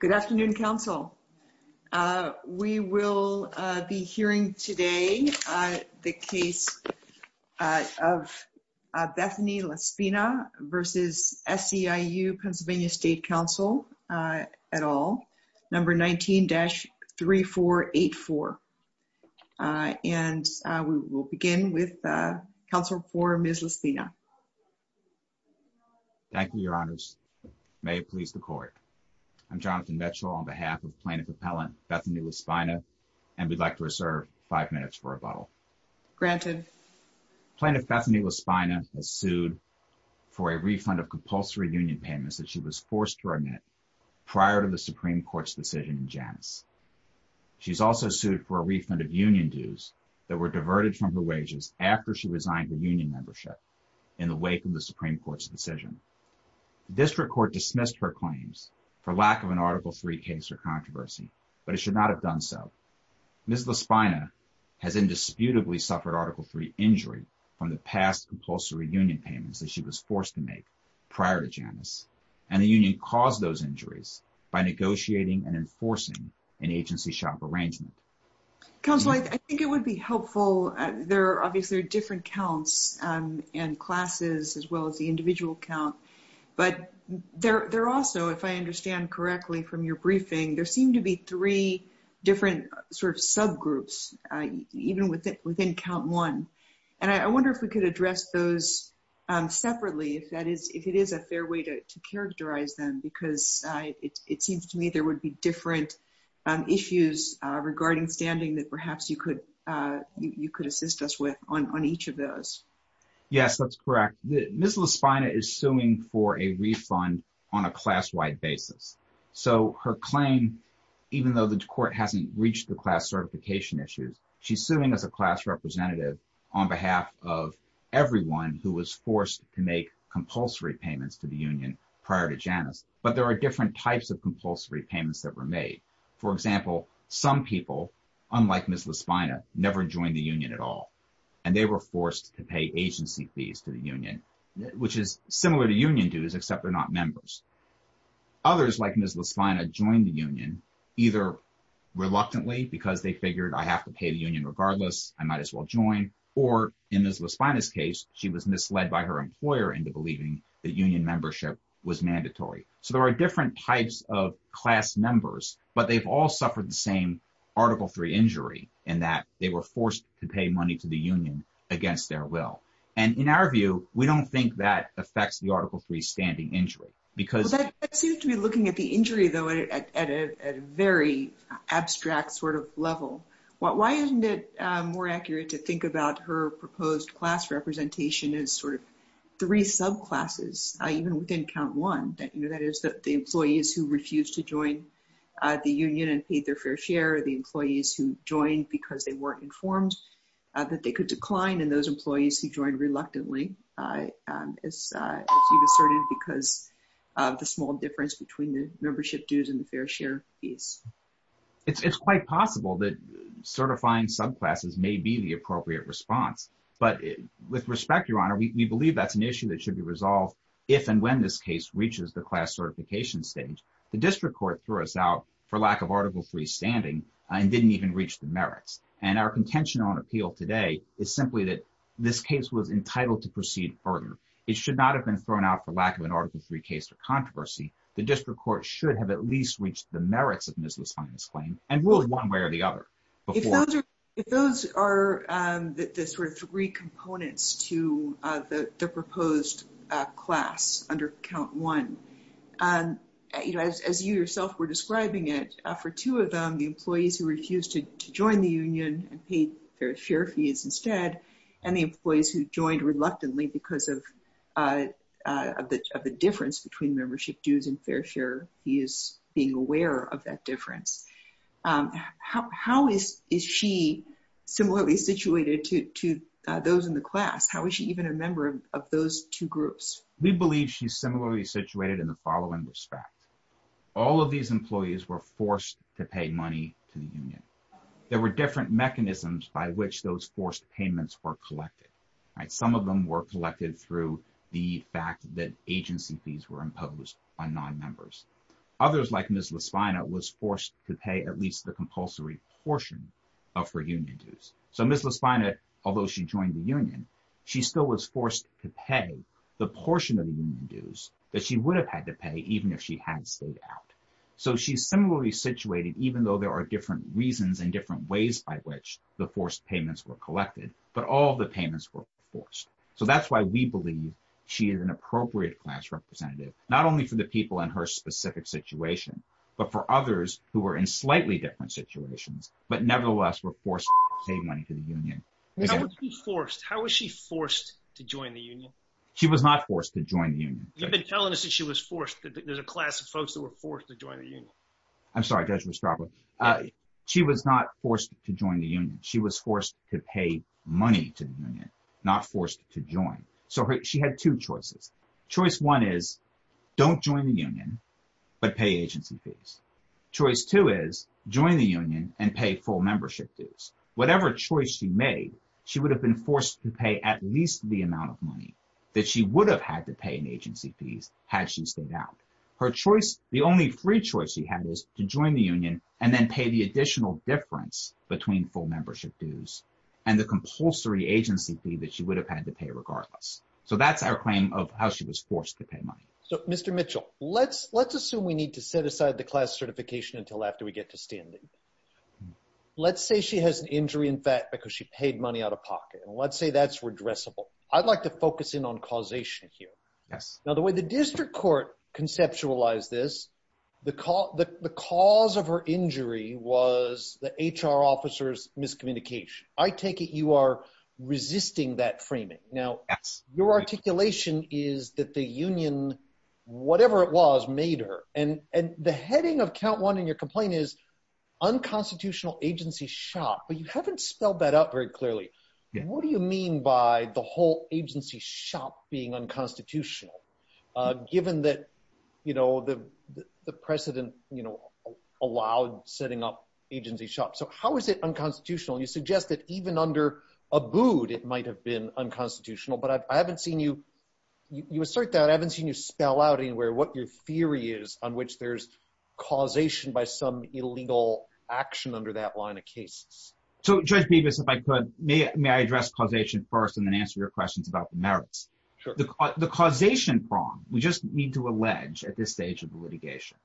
Good afternoon, Council. We will be hearing today the case of Bethany La Spina v. SEIU-PA State Council, at all, number 19-3484. And we will begin with Council for Ms. La Spina. Thank you, Your Honors. May it please the Court. I'm Jonathan Mitchell on behalf of Plaintiff Appellant Bethany La Spina, and we'd like to reserve five minutes for rebuttal. Granted. Plaintiff Bethany La Spina has sued for a refund of compulsory union payments that she was forced to remit prior to the Supreme Court's decision in Janus. She's also sued for a refund of union dues that were diverted from her wages after she resigned the union membership in the wake of the Supreme Court's decision. The District Court dismissed her claims for lack of an Article III case or controversy, but it should not have done so. Ms. La Spina has indisputably suffered Article III injury from the past compulsory union payments that she was forced to make prior to Janus, and the union caused those injuries by negotiating and enforcing an agency shop arrangement. Counsel, I think it would be helpful. There are obviously different counts and classes as well as the individual count. But there are also, if I understand correctly from your briefing, there seem to be three different sort of subgroups, even within count one. And I wonder if we could address those separately, if it is a fair way to characterize them, because it seems to me there would be different issues regarding standing that perhaps you could assist us with on each of those. Yes, that's correct. Ms. La Spina is suing for a refund on a class-wide basis. So her claim, even though the court hasn't reached the class certification issues, she's suing as a class representative on behalf of everyone who was forced to make compulsory payments to the union prior to Janus. But there are different types of compulsory payments that were made. For example, some people, unlike Ms. La Spina, never joined the union at all. And they were forced to pay agency fees to the union, which is similar to union dues, except they're not members. Others, like Ms. La Spina, joined the union either reluctantly because they figured, I have to pay the union regardless, I might as well join. Or in Ms. La Spina's case, she was misled by her employer into believing that union membership was mandatory. So there are different types of class members, but they've all suffered the same Article III injury in that they were forced to pay money to the union against their will. And in our view, we don't think that affects the Article III standing injury. That seems to be looking at the injury, though, at a very abstract sort of level. Why isn't it more accurate to think about her proposed class representation as sort of three subclasses, even within count one? That is, the employees who refused to join the union and paid their fair share, the employees who joined because they weren't informed that they could decline, and those employees who joined reluctantly, as you've asserted, because of the small difference between the membership dues and the fair share fees. It's quite possible that certifying subclasses may be the appropriate response. But with respect, Your Honor, we believe that's an issue that should be resolved if and when this case reaches the class certification stage. The district court threw us out for lack of Article III standing and didn't even reach the merits. And our contention on appeal today is simply that this case was entitled to proceed further. It should not have been thrown out for lack of an Article III case or controversy. The district court should have at least reached the merits of Ms. Loosland's claim and ruled one way or the other. If those are the sort of three components to the proposed class under count one, as you yourself were describing it, for two of them, the employees who refused to join the union and paid fair share fees instead, and the employees who joined reluctantly because of the difference between membership dues and fair share fees, being aware of that difference. How is she similarly situated to those in the class? How is she even a member of those two groups? We believe she's similarly situated in the following respect. All of these employees were forced to pay money to the union. There were different mechanisms by which those forced payments were collected. Some of them were collected through the fact that agency fees were imposed on non-members. Others, like Ms. Lasvina, was forced to pay at least the compulsory portion of her union dues. So Ms. Lasvina, although she joined the union, she still was forced to pay the portion of the union dues that she would have had to pay even if she had stayed out. So she's similarly situated, even though there are different reasons and different ways by which the forced payments were collected, but all the payments were forced. So that's why we believe she is an appropriate class representative, not only for the people in her specific situation, but for others who were in slightly different situations but nevertheless were forced to pay money to the union. How was she forced? How was she forced to join the union? She was not forced to join the union. You've been telling us that she was forced. There's a class of folks that were forced to join the union. I'm sorry, Judge Westrapa. She was not forced to join the union. She was forced to pay money to the union, not forced to join. So she had two choices. Choice one is don't join the union, but pay agency fees. Choice two is join the union and pay full membership dues. Whatever choice she made, she would have been forced to pay at least the amount of money that she would have had to pay in agency fees had she stayed out. The only free choice she had is to join the union and then pay the additional difference between full membership dues and the compulsory agency fee that she would have had to pay regardless. So that's our claim of how she was forced to pay money. So, Mr. Mitchell, let's assume we need to set aside the class certification until after we get to standing. Let's say she has an injury in fact because she paid money out of pocket. Let's say that's redressable. I'd like to focus in on causation here. Now, the way the district court conceptualized this, the cause of her injury was the HR officer's miscommunication. I take it you are resisting that framing. Now, your articulation is that the union, whatever it was, made her. And the heading of count one in your complaint is unconstitutional agency shop. But you haven't spelled that out very clearly. What do you mean by the whole agency shop being unconstitutional given that, you know, the president, you know, allowed setting up agency shop? So how is it unconstitutional? You suggest that even under Abood, it might have been unconstitutional. But I haven't seen you assert that. I haven't seen you spell out anywhere what your theory is on which there's causation by some illegal action under that line of cases. So, Judge Bevis, if I could, may I address causation first and then answer your questions about the merits. The causation prong, we just need to allege at this stage of litigation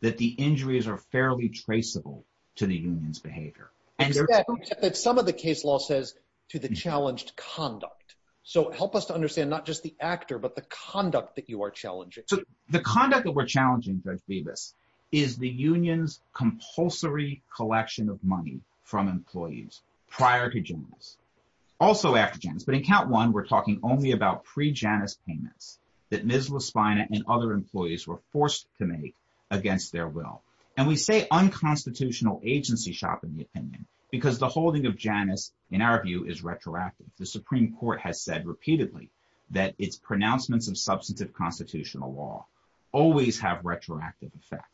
that the injuries are fairly traceable to the union's behavior. Some of the case law says to the challenged conduct. So help us to understand not just the actor, but the conduct that you are challenging. So the conduct that we're challenging, Judge Bevis, is the union's compulsory collection of money from employees prior to Janice, also after Janice. But in count one, we're talking only about pre-Janice payments that Ms. LaSpina and other employees were forced to make against their will. And we say unconstitutional agency shop in the opinion because the holding of Janice, in our view, is retroactive. The Supreme Court has said repeatedly that its pronouncements of substantive constitutional law always have retroactive effect.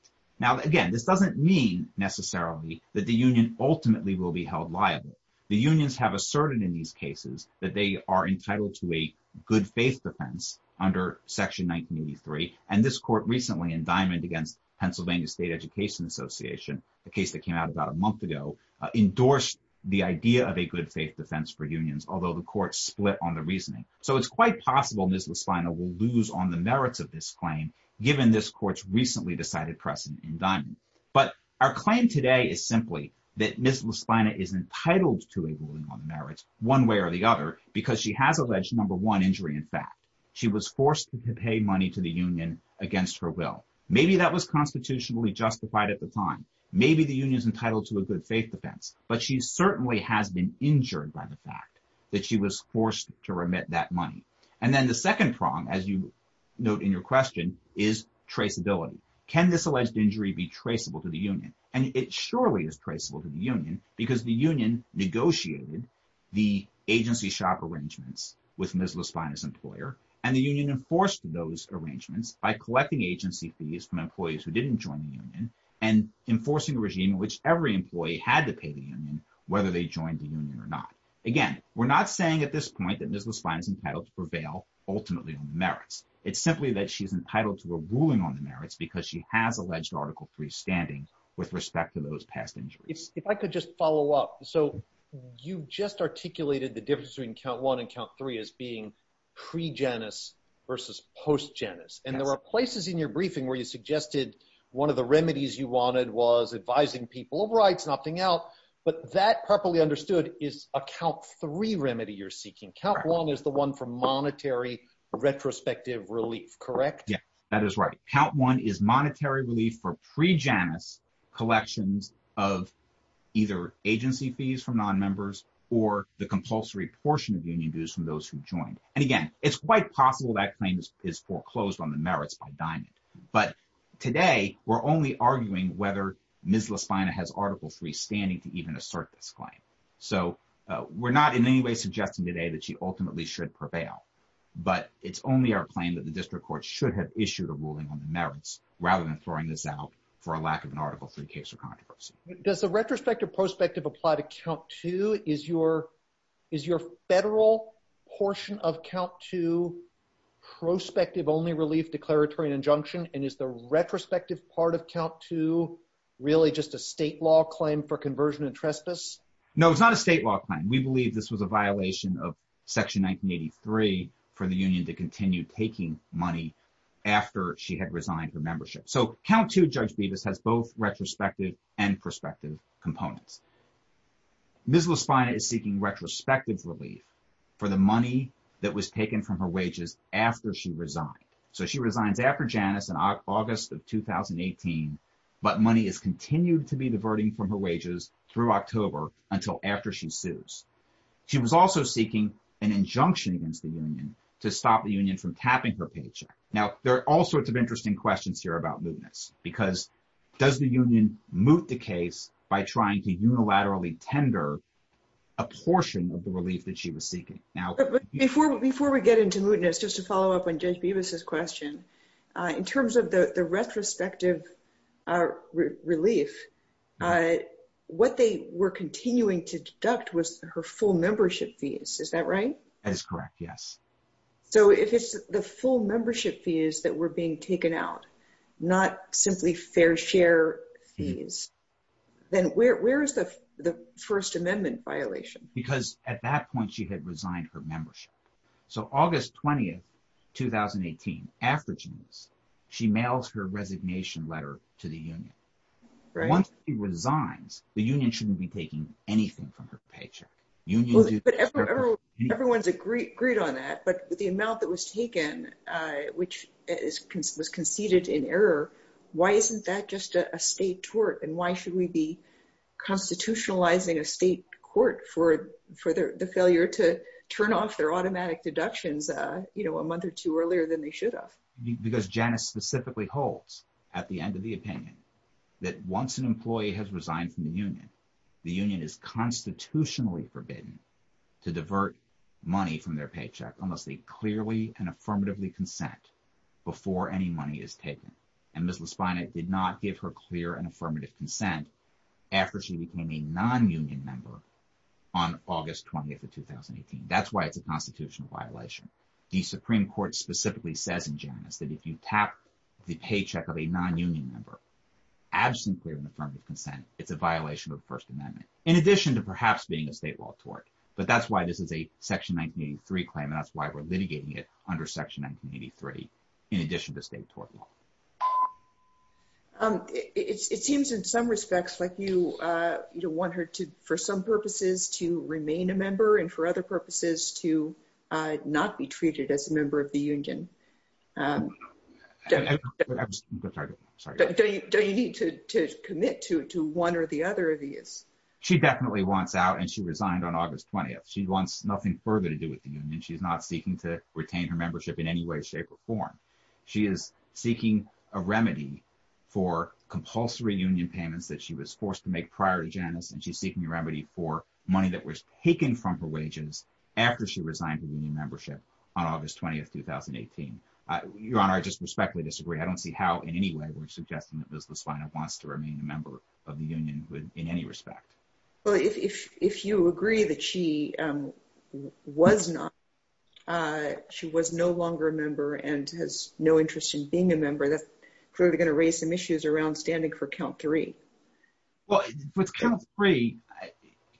Now, again, this doesn't mean necessarily that the union ultimately will be held liable. The unions have asserted in these cases that they are entitled to a good faith defense under Section 1983. And this court recently, indictment against Pennsylvania State Education Association, a case that came out about a month ago, endorsed the idea of a good faith defense for unions, although the court split on the reasoning. So it's quite possible Ms. LaSpina will lose on the merits of this claim, given this court's recently decided precedent indictment. But our claim today is simply that Ms. LaSpina is entitled to a ruling on the merits one way or the other because she has alleged, number one, injury in fact. She was forced to pay money to the union against her will. Maybe that was constitutionally justified at the time. Maybe the union is entitled to a good faith defense, but she certainly has been injured by the fact that she was forced to remit that money. And then the second prong, as you note in your question, is traceability. Can this alleged injury be traceable to the union? And it surely is traceable to the union because the union negotiated the agency shop arrangements with Ms. LaSpina's employer. And the union enforced those arrangements by collecting agency fees from employees who didn't join the union and enforcing a regime in which every employee had to pay the union, whether they joined the union or not. Again, we're not saying at this point that Ms. LaSpina is entitled to prevail ultimately on the merits. It's simply that she's entitled to a ruling on the merits because she has alleged Article III standing with respect to those past injuries. If I could just follow up. So you just articulated the difference between count one and count three as being pre-genesis versus post-genesis. And there are places in your briefing where you suggested one of the remedies you wanted was advising people of rights, opting out. But that properly understood is a count three remedy you're seeking. Count one is the one for monetary retrospective relief, correct? Yeah, that is right. Count one is monetary relief for pre-genesis collections of either agency fees from nonmembers or the compulsory portion of union dues from those who joined. And again, it's quite possible that claim is foreclosed on the merits by diamond. But today we're only arguing whether Ms. LaSpina has Article III standing to even assert this claim. So we're not in any way suggesting today that she ultimately should prevail. But it's only our claim that the district court should have issued a ruling on the merits rather than throwing this out for a lack of an Article III case or controversy. Does the retrospective prospective apply to count two? Is your federal portion of count two prospective only relief declaratory injunction? And is the retrospective part of count two really just a state law claim for conversion and trespass? No, it's not a state law claim. We believe this was a violation of Section 1983 for the union to continue taking money after she had resigned her membership. So count two, Judge Bevis, has both retrospective and prospective components. Ms. LaSpina is seeking retrospective relief for the money that was taken from her wages after she resigned. So she resigns after Janus in August of 2018, but money is continued to be diverting from her wages through October until after she sues. She was also seeking an injunction against the union to stop the union from tapping her paycheck. Now, there are all sorts of interesting questions here about mootness, because does the union moot the case by trying to unilaterally tender a portion of the relief that she was seeking? Before we get into mootness, just to follow up on Judge Bevis's question, in terms of the retrospective relief, what they were continuing to deduct was her full membership fees. Is that right? That is correct, yes. So if it's the full membership fees that were being taken out, not simply fair share fees, then where is the First Amendment violation? Because at that point, she had resigned her membership. So August 20, 2018, after Janus, she mails her resignation letter to the union. Once she resigns, the union shouldn't be taking anything from her paycheck. Everyone's agreed on that, but the amount that was taken, which was conceded in error, why isn't that just a state tort? And why should we be constitutionalizing a state court for the failure to turn off their automatic deductions a month or two earlier than they should have? Because Janus specifically holds, at the end of the opinion, that once an employee has resigned from the union, the union is constitutionally forbidden to divert money from their paycheck unless they clearly and affirmatively consent before any money is taken. And Ms. Laspina did not give her clear and affirmative consent after she became a non-union member on August 20, 2018. That's why it's a constitutional violation. The Supreme Court specifically says in Janus that if you tap the paycheck of a non-union member absent clear and affirmative consent, it's a violation of the First Amendment, in addition to perhaps being a state law tort. But that's why this is a Section 1983 claim, and that's why we're litigating it under Section 1983 in addition to state tort law. It seems in some respects like you want her to, for some purposes, to remain a member and for other purposes to not be treated as a member of the union. I'm sorry. Do you need to commit to one or the other of these? She definitely wants out, and she resigned on August 20. She wants nothing further to do with the union. She's not seeking to retain her membership in any way, shape, or form. She is seeking a remedy for compulsory union payments that she was forced to make prior to Janus, and she's seeking a remedy for money that was taken from her wages after she resigned her union membership on August 20, 2018. Your Honor, I just respectfully disagree. I don't see how in any way we're suggesting that Ms. Laspina wants to remain a member of the union in any respect. Well, if you agree that she was not, she was no longer a member and has no interest in being a member, that's clearly going to raise some issues around standing for count three. Well, with count three,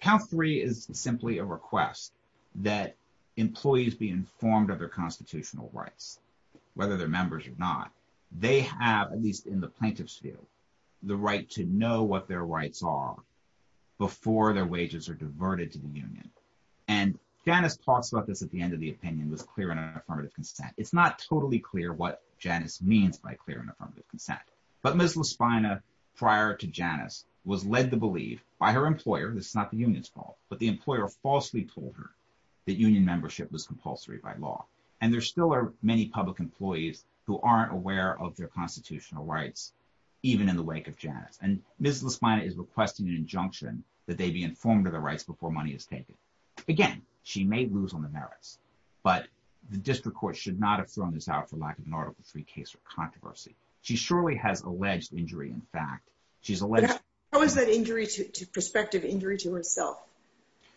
count three is simply a request that employees be informed of their constitutional rights, whether they're members or not. They have, at least in the plaintiff's field, the right to know what their rights are before their wages are diverted to the union. And Janus talks about this at the end of the opinion with clear and affirmative consent. It's not totally clear what Janus means by clear and affirmative consent. But Ms. Laspina, prior to Janus, was led to believe by her employer, this is not the union's fault, but the employer falsely told her that union membership was compulsory by law. And there still are many public employees who aren't aware of their constitutional rights, even in the wake of Janus. And Ms. Laspina is requesting an injunction that they be informed of their rights before money is taken. Again, she may lose on the merits, but the district court should not have thrown this out for lack of an article three case or controversy. She surely has alleged injury, in fact. How is that injury to perspective injury to herself?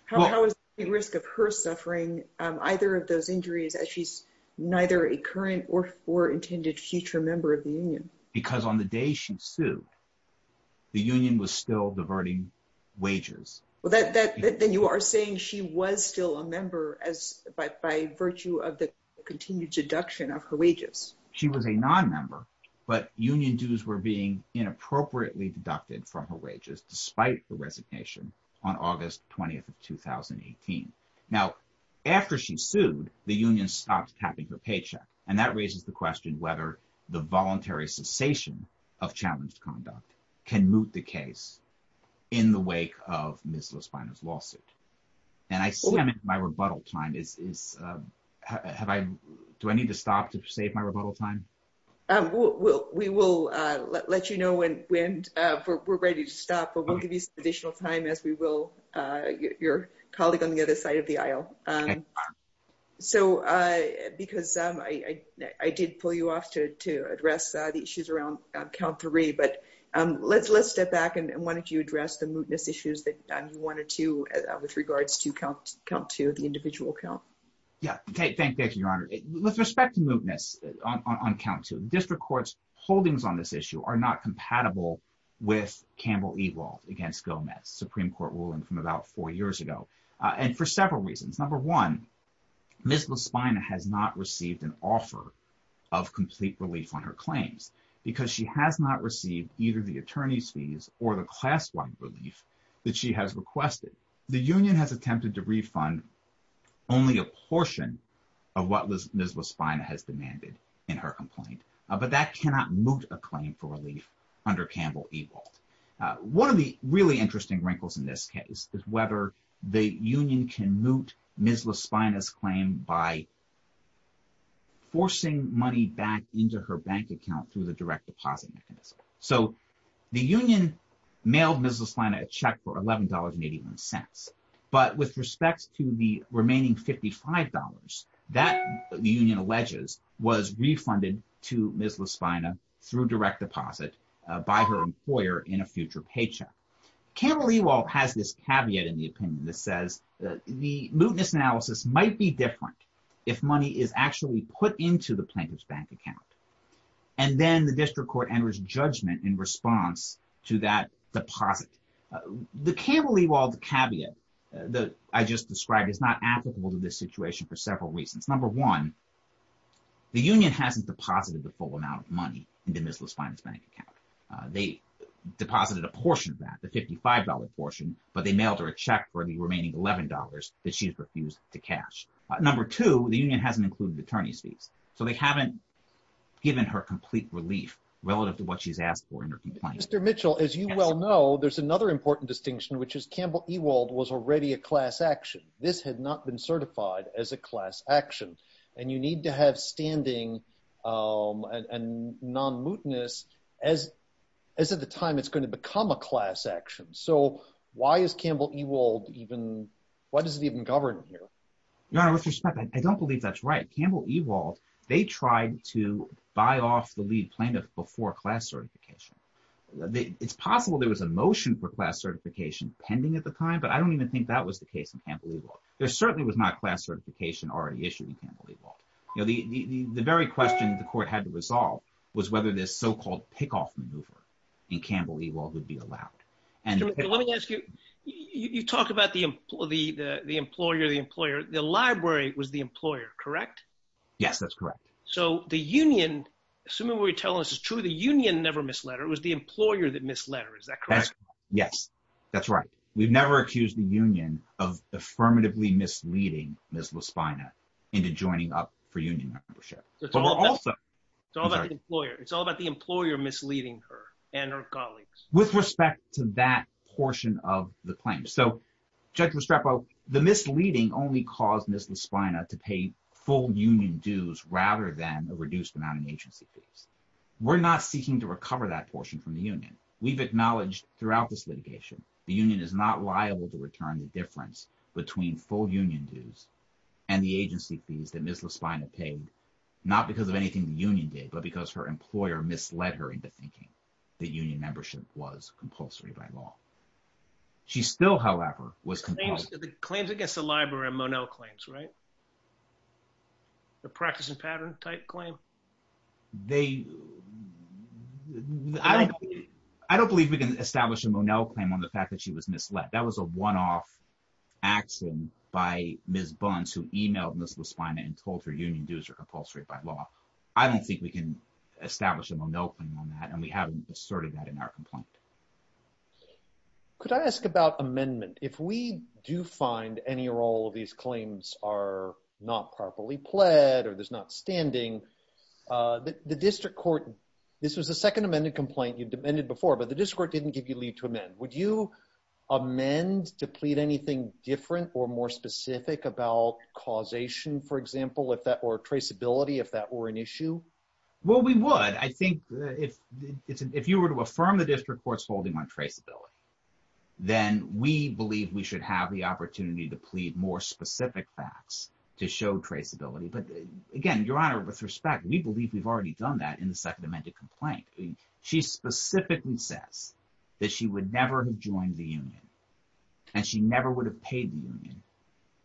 How is the risk of her suffering either of those injuries as she's neither a current or intended future member of the union? Because on the day she sued, the union was still diverting wages. Well, then you are saying she was still a member by virtue of the continued deduction of her wages. She was a non-member, but union dues were being inappropriately deducted from her wages despite the resignation on August 20th of 2018. Now, after she sued, the union stopped capping her paycheck. And that raises the question whether the voluntary cessation of challenged conduct can moot the case in the wake of Ms. Laspina's lawsuit. And I see my rebuttal time is have I do I need to stop to save my rebuttal time? We will let you know when we're ready to stop, but we'll give you some additional time as we will your colleague on the other side of the aisle. So because I did pull you off to to address the issues around count three, but let's let's step back. And why don't you address the mootness issues that you wanted to with regards to count count to the individual count? Yeah. Thank you, Your Honor. With respect to mootness on count to district courts, holdings on this issue are not compatible with Campbell Evolv against Gomez Supreme Court ruling from about four years ago and for several reasons. Number one, Ms. Laspina has not received an offer of complete relief on her claims because she has not received either the attorney's fees or the class one relief that she has requested. The union has attempted to refund only a portion of what Ms. Laspina has demanded in her complaint, but that cannot moot a claim for relief under Campbell Evolv. One of the really interesting wrinkles in this case is whether the union can moot Ms. Laspina's claim by forcing money back into her bank account through the direct deposit mechanism. So the union mailed Ms. Laspina a check for $11.81. But with respect to the remaining $55 that the union alleges was refunded to Ms. Laspina through direct deposit by her employer in a future paycheck. Campbell Evolv has this caveat in the opinion that says the mootness analysis might be different if money is actually put into the plaintiff's bank account. And then the district court enters judgment in response to that deposit. The Campbell Evolv caveat that I just described is not applicable to this situation for several reasons. Number one, the union hasn't deposited the full amount of money into Ms. Laspina's bank account. They deposited a portion of that, the $55 portion, but they mailed her a check for the remaining $11 that she has refused to cash. Number two, the union hasn't included attorney's fees. So they haven't given her complete relief relative to what she's asked for in her complaint. Mr. Mitchell, as you well know, there's another important distinction, which is Campbell Evolv was already a class action. This had not been certified as a class action. And you need to have standing and non-mootness as of the time it's going to become a class action. So why is Campbell Evolv even, why does it even govern here? Your Honor, with respect, I don't believe that's right. Campbell Evolv, they tried to buy off the lead plaintiff before class certification. It's possible there was a motion for class certification pending at the time, but I don't even think that was the case in Campbell Evolv. There certainly was not class certification already issued in Campbell Evolv. You know, the very question the court had to resolve was whether this so-called pickoff maneuver in Campbell Evolv would be allowed. Mr. Mitchell, let me ask you, you talk about the employer, the employer, the library was the employer, correct? Yes, that's correct. So the union, assuming what you're telling us is true, the union never misled her. It was the employer that misled her. Is that correct? Yes, that's right. We've never accused the union of affirmatively misleading Ms. LaSpina into joining up for union membership. It's all about the employer. It's all about the employer misleading her and her colleagues. With respect to that portion of the claim. So, Judge Restrepo, the misleading only caused Ms. LaSpina to pay full union dues rather than a reduced amount in agency fees. We're not seeking to recover that portion from the union. We've acknowledged throughout this litigation the union is not liable to return the difference between full union dues and the agency fees that Ms. LaSpina paid, not because of anything the union did, but because her employer misled her into thinking that union membership was compulsory by law. She still, however, was— Claims against the library and Monell claims, right? The practice and pattern type claim? They—I don't believe we can establish a Monell claim on the fact that she was misled. That was a one-off action by Ms. Bunce who emailed Ms. LaSpina and told her union dues are compulsory by law. I don't think we can establish a Monell claim on that, and we haven't asserted that in our complaint. Could I ask about amendment? If we do find any or all of these claims are not properly pled or there's not standing, the district court—this was the second amended complaint you've amended before, but the district court didn't give you leave to amend. Would you amend to plead anything different or more specific about causation, for example, or traceability if that were an issue? Well, we would. I think if you were to affirm the district court's holding on traceability, then we believe we should have the opportunity to plead more specific facts to show traceability. But again, Your Honor, with respect, we believe we've already done that in the second amended complaint. She specifically says that she would never have joined the union, and she never would have paid the union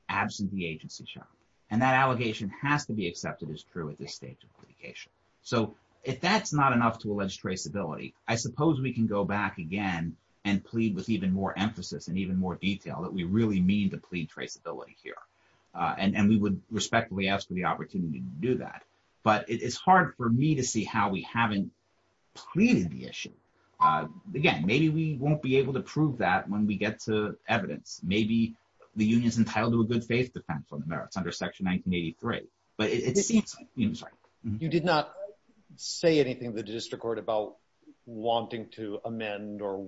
absent the agency shock. And that allegation has to be accepted as true at this stage of litigation. So if that's not enough to allege traceability, I suppose we can go back again and plead with even more emphasis and even more detail that we really mean to plead traceability here. And we would respectfully ask for the opportunity to do that. But it's hard for me to see how we haven't pleaded the issue. Again, maybe we won't be able to prove that when we get to evidence. Maybe the union's entitled to a good faith defense on the merits under Section 1983. But it seems— You did not say anything to the district court about wanting to amend or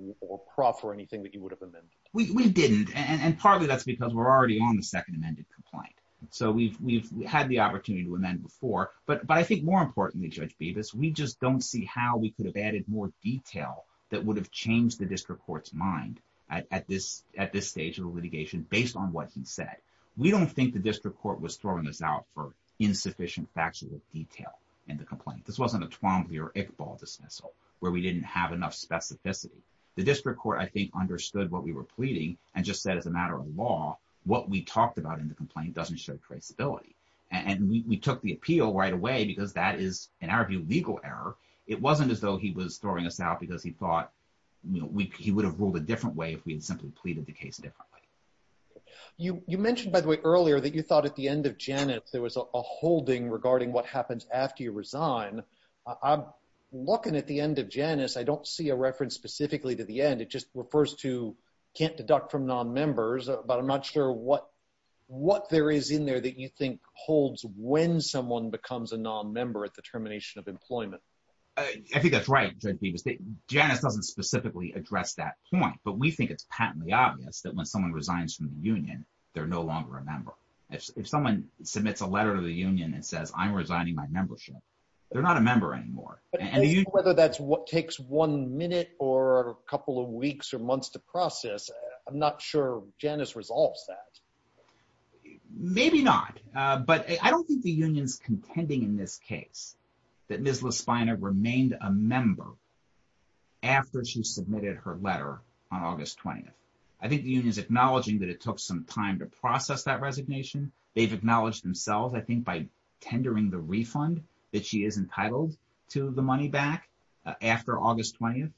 proffer anything that you would have amended. We didn't, and partly that's because we're already on the second amended complaint. So we've had the opportunity to amend before. But I think more importantly, Judge Bevis, we just don't see how we could have added more detail that would have changed the district court's mind at this stage of the litigation based on what he said. We don't think the district court was throwing us out for insufficient factual detail in the complaint. This wasn't a Twombly or Iqbal dismissal where we didn't have enough specificity. The district court, I think, understood what we were pleading and just said, as a matter of law, what we talked about in the complaint doesn't show traceability. And we took the appeal right away because that is, in our view, legal error. It wasn't as though he was throwing us out because he thought he would have ruled a different way if we had simply pleaded the case differently. You mentioned, by the way, earlier that you thought at the end of Janus there was a holding regarding what happens after you resign. I'm looking at the end of Janus. I don't see a reference specifically to the end. It just refers to can't deduct from nonmembers. But I'm not sure what there is in there that you think holds when someone becomes a nonmember at the termination of employment. I think that's right, Judge Bevis. Janus doesn't specifically address that point. But we think it's patently obvious that when someone resigns from the union, they're no longer a member. If someone submits a letter to the union and says, I'm resigning my membership, they're not a member anymore. Whether that's what takes one minute or a couple of weeks or months to process, I'm not sure Janus resolves that. Maybe not. But I don't think the union's contending in this case that Ms. Laspina remained a member after she submitted her letter on August 20th. I think the union is acknowledging that it took some time to process that resignation. They've acknowledged themselves, I think, by tendering the refund that she is entitled to the money back after August 20th.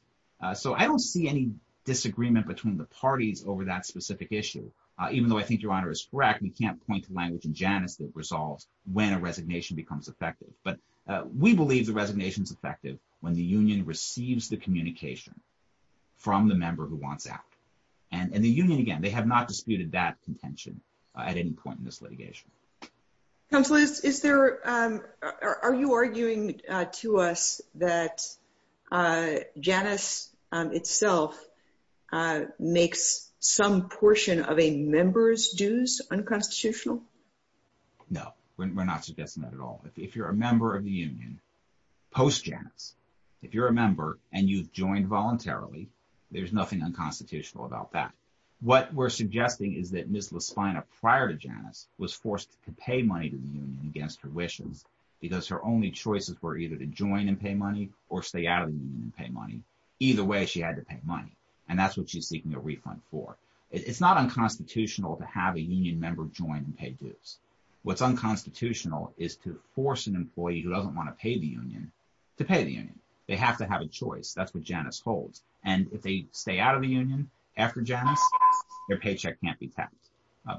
So I don't see any disagreement between the parties over that specific issue, even though I think Your Honor is correct. We can't point to language in Janus that resolves when a resignation becomes effective. But we believe the resignation is effective when the union receives the communication from the member who wants out. And the union, again, they have not disputed that contention at any point in this litigation. Counselors, are you arguing to us that Janus itself makes some portion of a member's dues unconstitutional? No, we're not suggesting that at all. If you're a member of the union post-Janus, if you're a member and you've joined voluntarily, there's nothing unconstitutional about that. What we're suggesting is that Ms. Laspina prior to Janus was forced to pay money to the union against her wishes because her only choices were either to join and pay money or stay out of the union and pay money. Either way, she had to pay money. And that's what she's seeking a refund for. It's not unconstitutional to have a union member join and pay dues. What's unconstitutional is to force an employee who doesn't want to pay the union to pay the union. They have to have a choice. That's what Janus holds. And if they stay out of the union after Janus, their paycheck can't be taxed.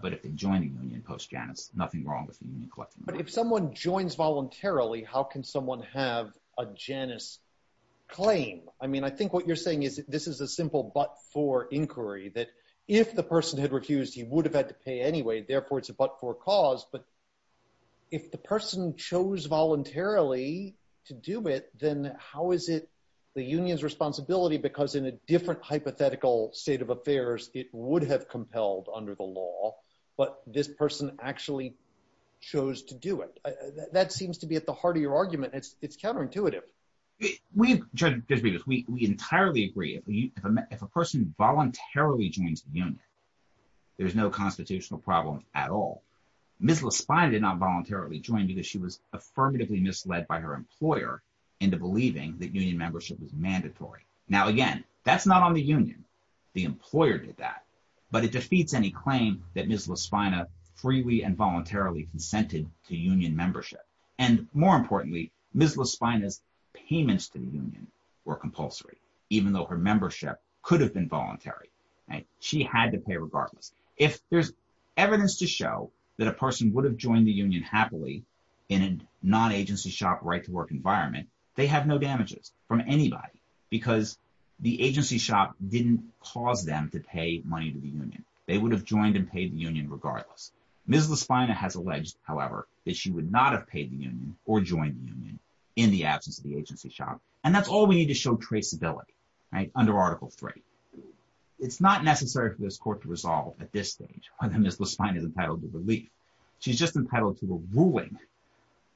But if they join the union post-Janus, nothing wrong with the union collecting money. But if someone joins voluntarily, how can someone have a Janus claim? I mean, I think what you're saying is this is a simple but-for inquiry, that if the person had refused, he would have had to pay anyway. Therefore, it's a but-for cause. But if the person chose voluntarily to do it, then how is it the union's responsibility? Because in a different hypothetical state of affairs, it would have compelled under the law. But this person actually chose to do it. That seems to be at the heart of your argument. It's counterintuitive. We entirely agree. If a person voluntarily joins the union, there's no constitutional problem at all. Ms. LaSpina did not voluntarily join because she was affirmatively misled by her employer into believing that union membership was mandatory. Now, again, that's not on the union. The employer did that. But it defeats any claim that Ms. LaSpina freely and voluntarily consented to union membership. And more importantly, Ms. LaSpina's payments to the union were compulsory, even though her membership could have been voluntary. She had to pay regardless. If there's evidence to show that a person would have joined the union happily in a non-agency shop, right-to-work environment, they have no damages from anybody because the agency shop didn't cause them to pay money to the union. They would have joined and paid the union regardless. Ms. LaSpina has alleged, however, that she would not have paid the union or joined the union in the absence of the agency shop. And that's all we need to show traceability under Article III. It's not necessary for this court to resolve at this stage whether Ms. LaSpina is entitled to relief. She's just entitled to a ruling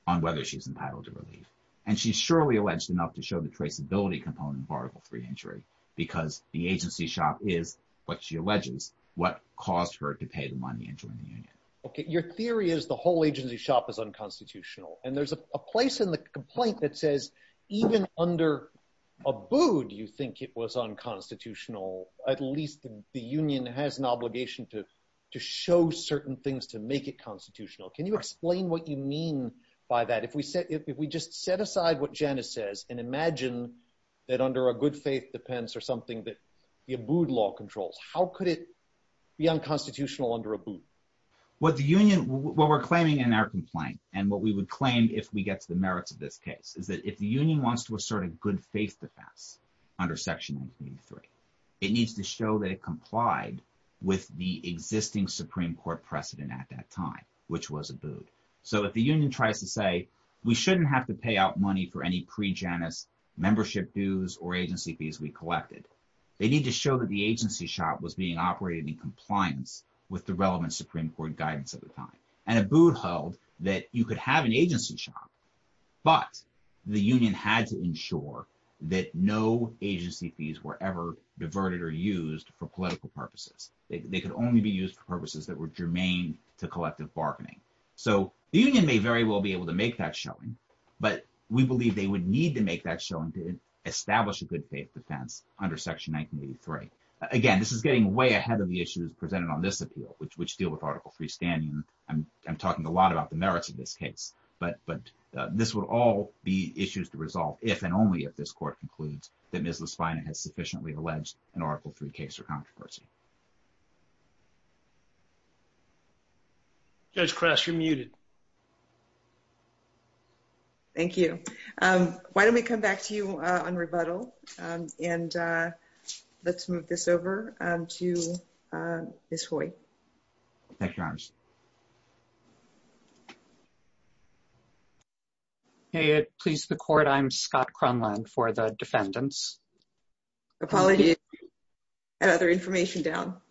on whether she's entitled to relief. And she's surely alleged enough to show the traceability component of Article III injury because the agency shop is, what she alleges, what caused her to pay the money and join the union. Okay. Your theory is the whole agency shop is unconstitutional. And there's a place in the complaint that says even under Abood you think it was unconstitutional. At least the union has an obligation to show certain things to make it constitutional. Can you explain what you mean by that? If we just set aside what Janice says and imagine that under a good faith defense or something that the Abood law controls, how could it be unconstitutional under Abood? What the union – what we're claiming in our complaint and what we would claim if we get to the merits of this case is that if the union wants to assert a good faith defense under Section 93, it needs to show that it complied with the existing Supreme Court precedent at that time, which was Abood. So if the union tries to say we shouldn't have to pay out money for any pre-Janice membership dues or agency fees we collected, they need to show that the agency shop was being operated in compliance with the relevant Supreme Court guidance at the time. And Abood held that you could have an agency shop, but the union had to ensure that no agency fees were ever diverted or used for political purposes. They could only be used for purposes that were germane to collective bargaining. So the union may very well be able to make that showing, but we believe they would need to make that showing to establish a good faith defense under Section 1983. Again, this is getting way ahead of the issues presented on this appeal, which deal with Article 3 standing. I'm talking a lot about the merits of this case, but this would all be issues to resolve if and only if this court concludes that Ms. Laspina has sufficiently alleged an Article 3 case or controversy. Judge Kress, you're muted. Thank you. Why don't we come back to you on rebuttal? And let's move this over to Ms. Hoy. Thank you, Your Honors. Hey, at Please the Court, I'm Scott Cronlund for the defendants. Apologies. I have other information down.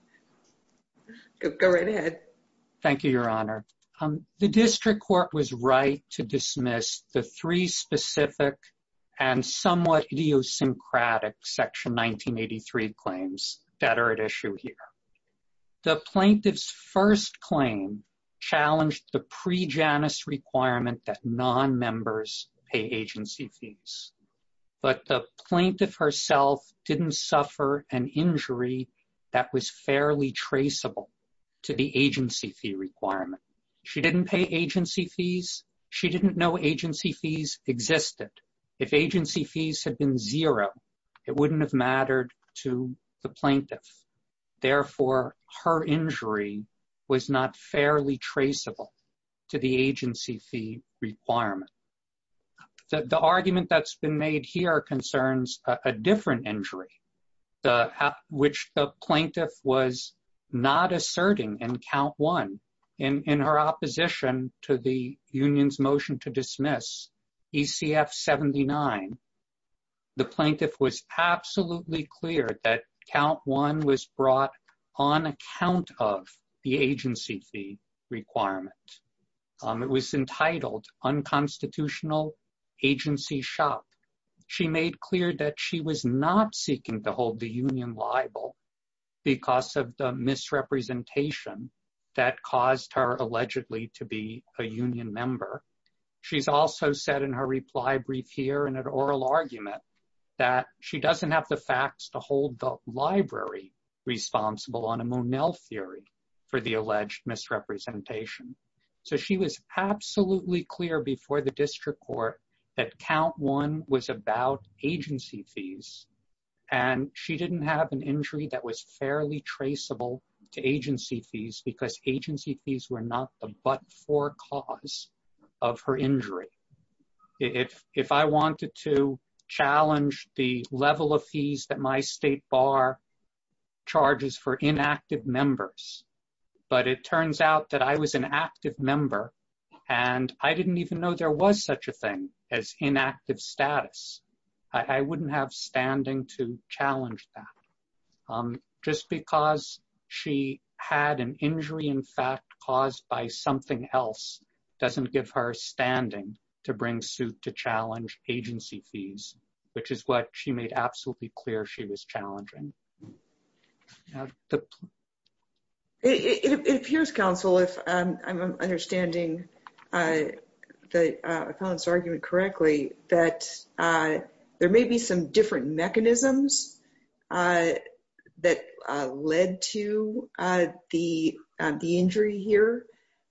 Go right ahead. Thank you, Your Honor. The district court was right to dismiss the three specific and somewhat idiosyncratic Section 1983 claims that are at issue here. The plaintiff's first claim challenged the pre-Janus requirement that nonmembers pay agency fees. But the plaintiff herself didn't suffer an injury that was fairly traceable to the agency fee requirement. She didn't pay agency fees. She didn't know agency fees existed. If agency fees had been zero, it wouldn't have mattered to the plaintiff. Therefore, her injury was not fairly traceable to the agency fee requirement. The argument that's been made here concerns a different injury, which the plaintiff was not asserting in Count 1. In her opposition to the union's motion to dismiss ECF 79, the plaintiff was absolutely clear that Count 1 was brought on account of the agency fee requirement. It was entitled unconstitutional agency shock. She made clear that she was not seeking to hold the union liable because of the misrepresentation that caused her allegedly to be a union member. She's also said in her reply brief here in an oral argument that she doesn't have the facts to hold the library responsible on a Monell theory for the alleged misrepresentation. So she was absolutely clear before the district court that Count 1 was about agency fees, and she didn't have an injury that was fairly traceable to agency fees because agency fees were not the but-for cause of her injury. If I wanted to challenge the level of fees that my state bar charges for inactive members, but it turns out that I was an active member and I didn't even know there was such a thing as inactive status, I wouldn't have standing to challenge that. Just because she had an injury in fact caused by something else doesn't give her standing to bring suit to challenge agency fees, which is what she made absolutely clear she was challenging. It appears, counsel, if I'm understanding the argument correctly, that there may be some different mechanisms that led to the injury here,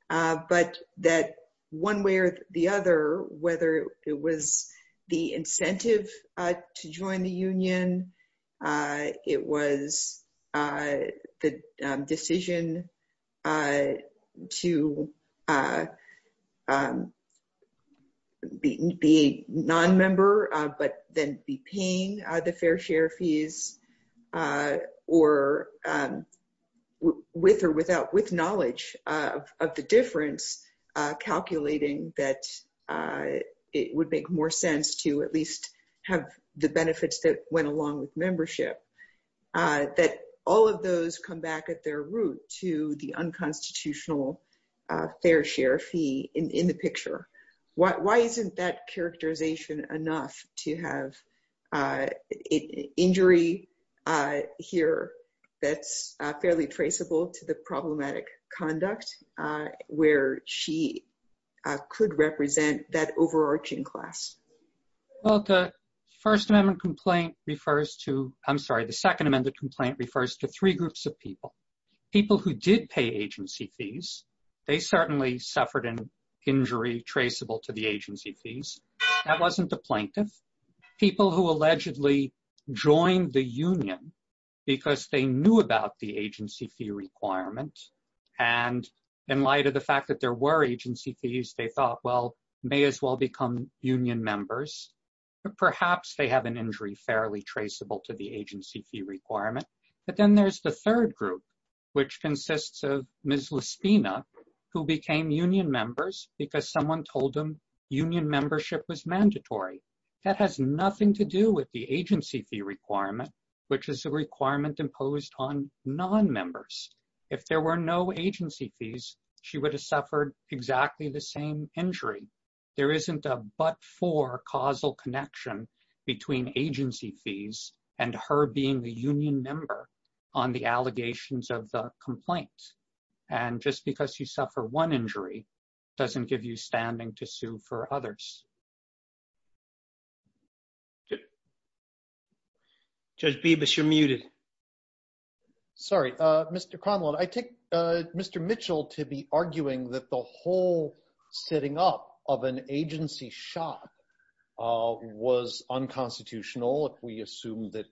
but that one way or the other, whether it was the incentive to join the union, it was the decision to be non-member but then be paying the fair share fees, or with or without knowledge of the difference, calculating that it would make more sense to at least have the benefits that went along with membership, that all of those come back at their root to the unconstitutional fair share fee in the picture. Why isn't that characterization enough to have injury here that's fairly traceable to the problematic conduct where she could represent that overarching class? Well, the Second Amendment complaint refers to three groups of people. People who did pay agency fees, they certainly suffered an injury traceable to the agency fees. That wasn't the plaintiff. People who allegedly joined the union because they knew about the agency fee requirement, and in light of the fact that there were agency fees, they thought, well, may as well become union members. Perhaps they have an injury fairly traceable to the agency fee requirement. But then there's the third group, which consists of Ms. Lespina, who became union members because someone told them union membership was mandatory. That has nothing to do with the agency fee requirement, which is a requirement imposed on non-members. If there were no agency fees, she would have suffered exactly the same injury. There isn't a but-for causal connection between agency fees and her being the union member on the allegations of the complaint. And just because you suffer one injury doesn't give you standing to sue for others. Judge Bibas, you're muted. Sorry, Mr. Conlon. I take Mr. Mitchell to be arguing that the whole setting up of an agency shop was unconstitutional if we assume that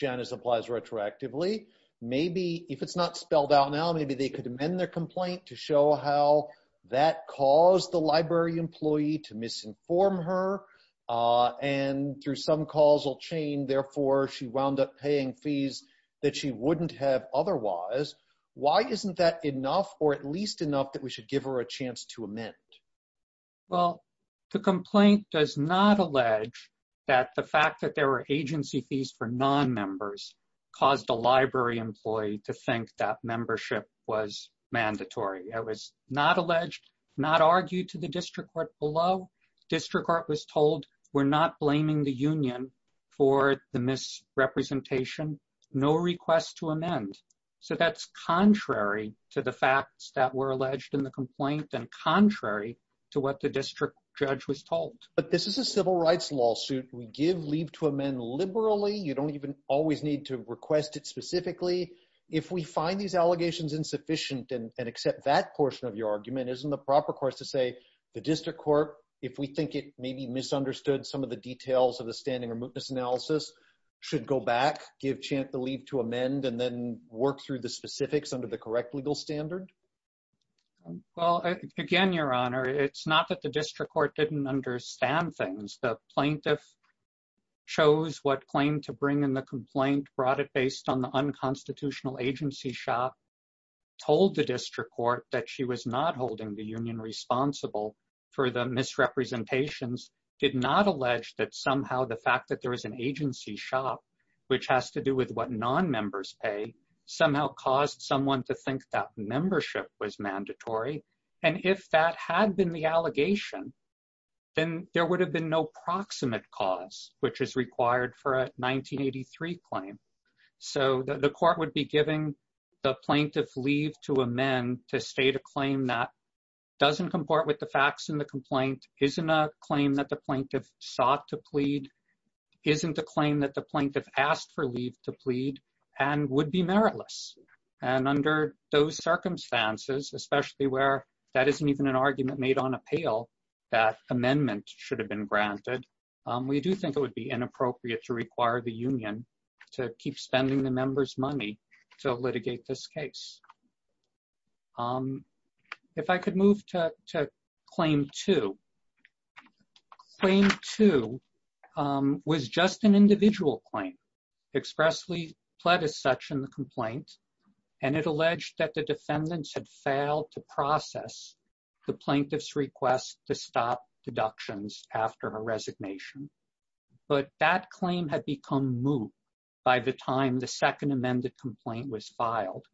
Janice applies retroactively. Maybe if it's not spelled out now, maybe they could amend their complaint to show how that caused the library employee to misinform her. And through some causal chain, therefore, she wound up paying fees that she wouldn't have otherwise. Why isn't that enough or at least enough that we should give her a chance to amend? Well, the complaint does not allege that the fact that there were agency fees for non-members caused a library employee to think that membership was mandatory. It was not alleged, not argued to the district court below. District court was told, we're not blaming the union for the misrepresentation. No request to amend. So that's contrary to the facts that were alleged in the complaint and contrary to what the district judge was told. But this is a civil rights lawsuit. We give leave to amend liberally. You don't even always need to request it specifically. If we find these allegations insufficient and accept that portion of your argument, isn't the proper course to say the district court, if we think it may be misunderstood some of the details of the standing or mootness analysis, should go back, give the leave to amend, and then work through the specifics under the correct legal standard? Well, again, Your Honor, it's not that the district court didn't understand things. The plaintiff chose what claim to bring in the complaint, brought it based on the unconstitutional agency shop, told the district court that she was not holding the union responsible for the misrepresentations, did not allege that somehow the fact that there is an agency shop, which has to do with what nonmembers pay, somehow caused someone to think that membership was mandatory. And if that had been the allegation, then there would have been no proximate cause, which is required for a 1983 claim. So the court would be giving the plaintiff leave to amend to state a claim that doesn't comport with the facts in the complaint, isn't a claim that the plaintiff sought to plead, isn't a claim that the plaintiff asked for leave to plead, and would be meritless. And under those circumstances, especially where that isn't even an argument made on appeal, that amendment should have been granted, we do think it would be inappropriate to require the union to keep spending the members' money to litigate this case. If I could move to claim two. Claim two was just an individual claim, expressly pled as such in the complaint, and it alleged that the defendants had failed to process the plaintiff's request to stop deductions after her resignation. But that claim had become moot by the time the second amended complaint was filed.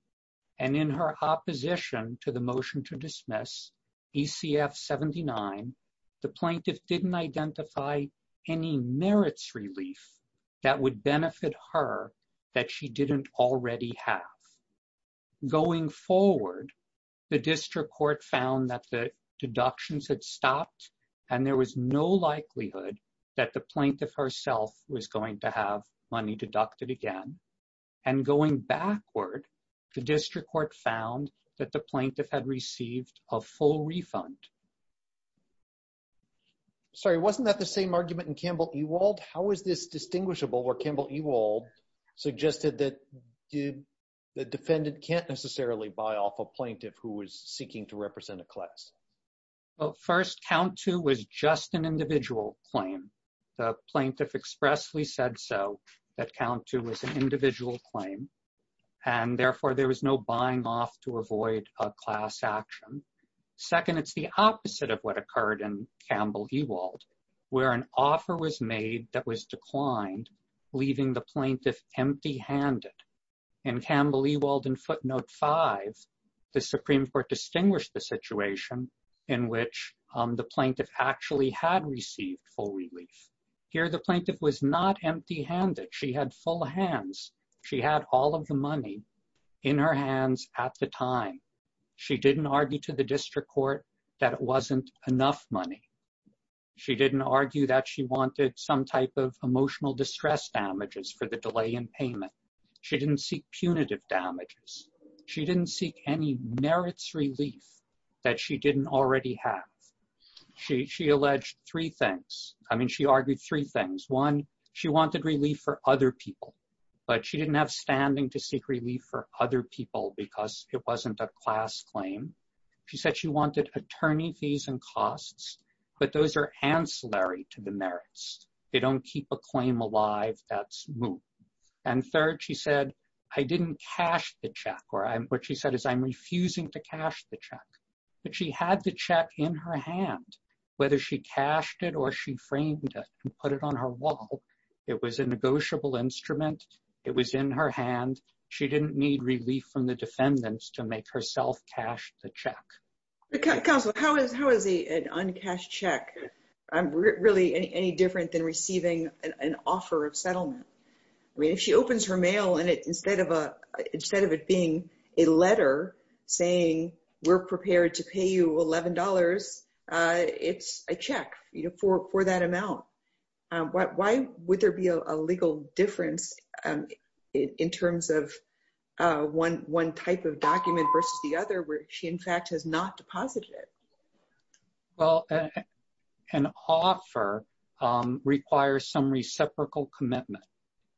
And in her opposition to the motion to dismiss, ECF 79, the plaintiff didn't identify any merits relief that would benefit her that she didn't already have. Going forward, the district court found that the deductions had stopped, and there was no likelihood that the plaintiff herself was going to have money deducted again. And going backward, the district court found that the plaintiff had received a full refund. Sorry, wasn't that the same argument in Campbell Ewald? How is this distinguishable where Campbell Ewald suggested that the defendant can't necessarily buy off a plaintiff who was seeking to represent a class? First, count two was just an individual claim. The plaintiff expressly said so, that count two was an individual claim. And therefore, there was no buying off to avoid a class action. Second, it's the opposite of what occurred in Campbell Ewald, where an offer was made that was declined, leaving the plaintiff empty-handed. In Campbell Ewald in footnote five, the Supreme Court distinguished the situation in which the plaintiff actually had received full relief. Here, the plaintiff was not empty-handed. She had full hands. She had all of the money in her hands at the time. She didn't argue to the district court that it wasn't enough money. She didn't argue that she wanted some type of emotional distress damages for the delay in payment. She didn't seek punitive damages. She didn't seek any merits relief that she didn't already have. She alleged three things. I mean, she argued three things. One, she wanted relief for other people, but she didn't have standing to seek relief for other people because it wasn't a class claim. She said she wanted attorney fees and costs, but those are ancillary to the merits. They don't keep a claim alive. That's moot. And third, she said, I didn't cash the check, or what she said is I'm refusing to cash the check. But she had the check in her hand, whether she cashed it or she framed it and put it on her wall. It was a negotiable instrument. It was in her hand. She didn't need relief from the defendants to make herself cash the check. Counsel, how is an uncashed check really any different than receiving an offer of settlement? I mean, if she opens her mail and instead of it being a letter saying we're prepared to pay you $11, it's a check for that amount. Why would there be a legal difference in terms of one type of document versus the other where she, in fact, has not deposited it? Well, an offer requires some reciprocal commitment.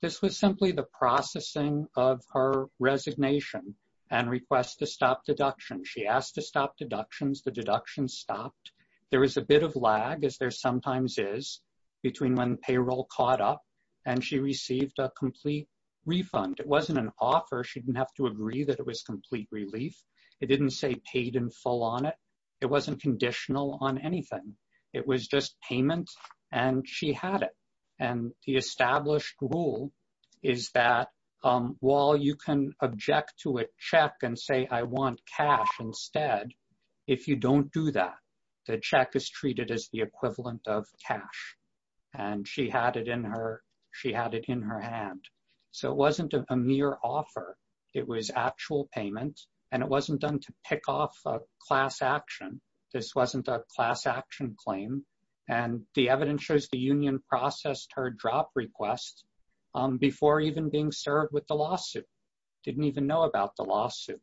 This was simply the processing of her resignation and request to stop deduction. She asked to stop deductions. The deductions stopped. There was a bit of lag, as there sometimes is, between when payroll caught up and she received a complete refund. It wasn't an offer. She didn't have to agree that it was complete relief. It didn't say paid in full on it. It wasn't conditional on anything. It was just payment, and she had it. And the established rule is that while you can object to a check and say I want cash instead, if you don't do that, the check is treated as the equivalent of cash. And she had it in her hand. So it wasn't a mere offer. It was actual payment, and it wasn't done to pick off a class action. This wasn't a class action claim. And the evidence shows the union processed her drop request before even being served with the lawsuit. Didn't even know about the lawsuit.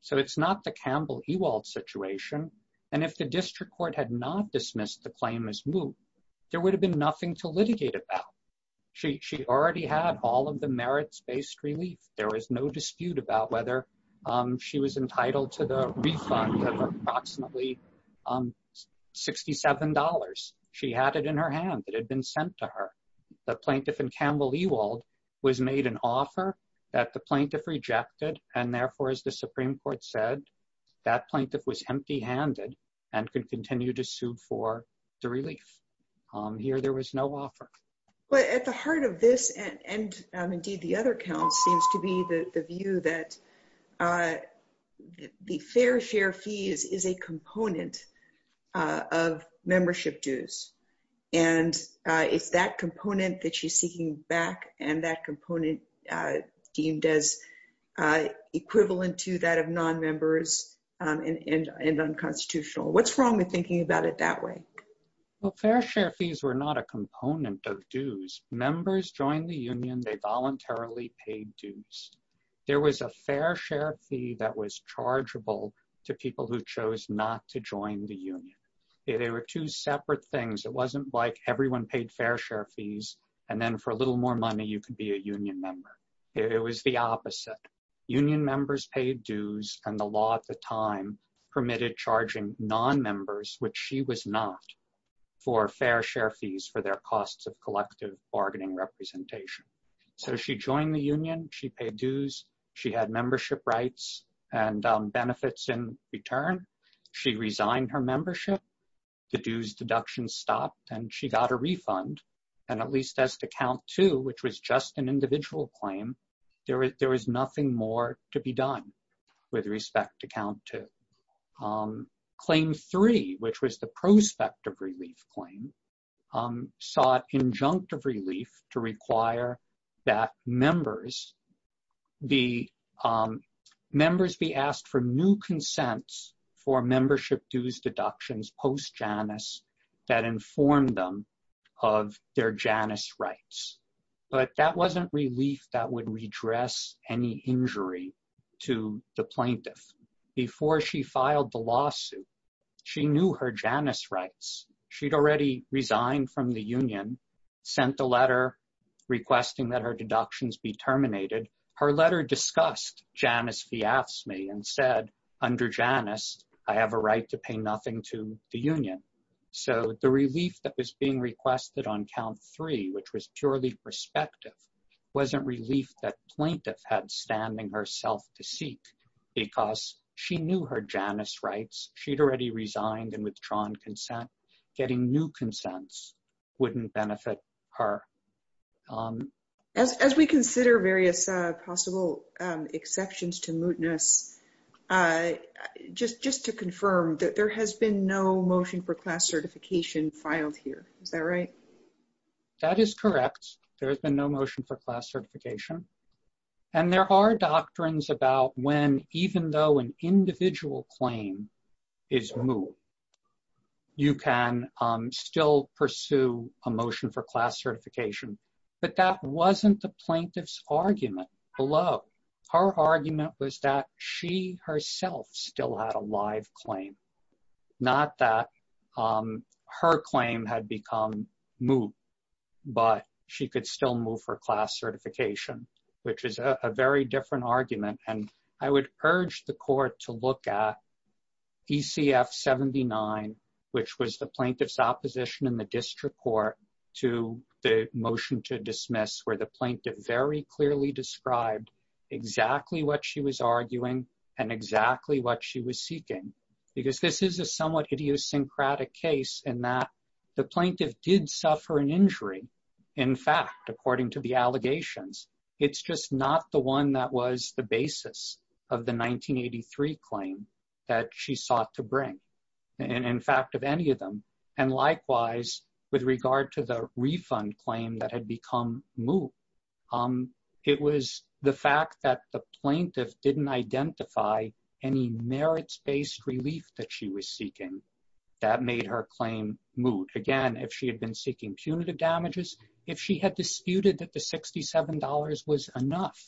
So it's not the Campbell Ewald situation. And if the district court had not dismissed the claim as moot, there would have been nothing to litigate about. She already had all of the merits-based relief. There was no dispute about whether she was entitled to the refund of approximately $67. She had it in her hand. It had been sent to her. The plaintiff in Campbell Ewald was made an offer that the plaintiff rejected, and therefore, as the Supreme Court said, that plaintiff was empty-handed and could continue to sue for the relief. Here, there was no offer. But at the heart of this, and indeed the other counts, seems to be the view that the fair share fees is a component of membership dues. And it's that component that she's seeking back, and that component deemed as equivalent to that of non-members and unconstitutional. What's wrong with thinking about it that way? Well, fair share fees were not a component of dues. Members joined the union. They voluntarily paid dues. There was a fair share fee that was chargeable to people who chose not to join the union. They were two separate things. It wasn't like everyone paid fair share fees, and then for a little more money, you could be a union member. It was the opposite. Union members paid dues, and the law at the time permitted charging non-members, which she was not, for fair share fees for their costs of collective bargaining representation. So she joined the union. She paid dues. She had membership rights and benefits in return. She resigned her membership. The dues deduction stopped, and she got a refund. And at least as to Count 2, which was just an individual claim, there was nothing more to be done with respect to Count 2. Claim 3, which was the prospect of relief claim, sought injunctive relief to require that members be asked for new consents for membership dues deductions post-Janus that informed them of their Janus rights. But that wasn't relief that would redress any injury to the plaintiff. Before she filed the lawsuit, she knew her Janus rights. She'd already resigned from the union, sent a letter requesting that her deductions be terminated. Her letter discussed Janus fias me and said, under Janus, I have a right to pay nothing to the union. So the relief that was being requested on Count 3, which was purely prospective, wasn't relief that plaintiff had standing herself to seek because she knew her Janus rights. She'd already resigned and withdrawn consent. Getting new consents wouldn't benefit her. As we consider various possible exceptions to mootness, just to confirm, there has been no motion for class certification filed here. Is that right? That is correct. There's been no motion for class certification. And there are doctrines about when, even though an individual claim is moot, you can still pursue a motion for class certification. But that wasn't the plaintiff's argument below. Her argument was that she herself still had a live claim. Not that her claim had become moot, but she could still move her class certification, which is a very different argument. And I would urge the court to look at ECF 79, which was the plaintiff's opposition in the district court to the motion to dismiss, where the plaintiff very clearly described exactly what she was arguing and exactly what she was seeking. Because this is a somewhat idiosyncratic case in that the plaintiff did suffer an injury. In fact, according to the allegations, it's just not the one that was the basis of the 1983 claim that she sought to bring. And likewise, with regard to the refund claim that had become moot, it was the fact that the plaintiff didn't identify any merits-based relief that she was seeking that made her claim moot. Again, if she had been seeking punitive damages, if she had disputed that the $67 was enough,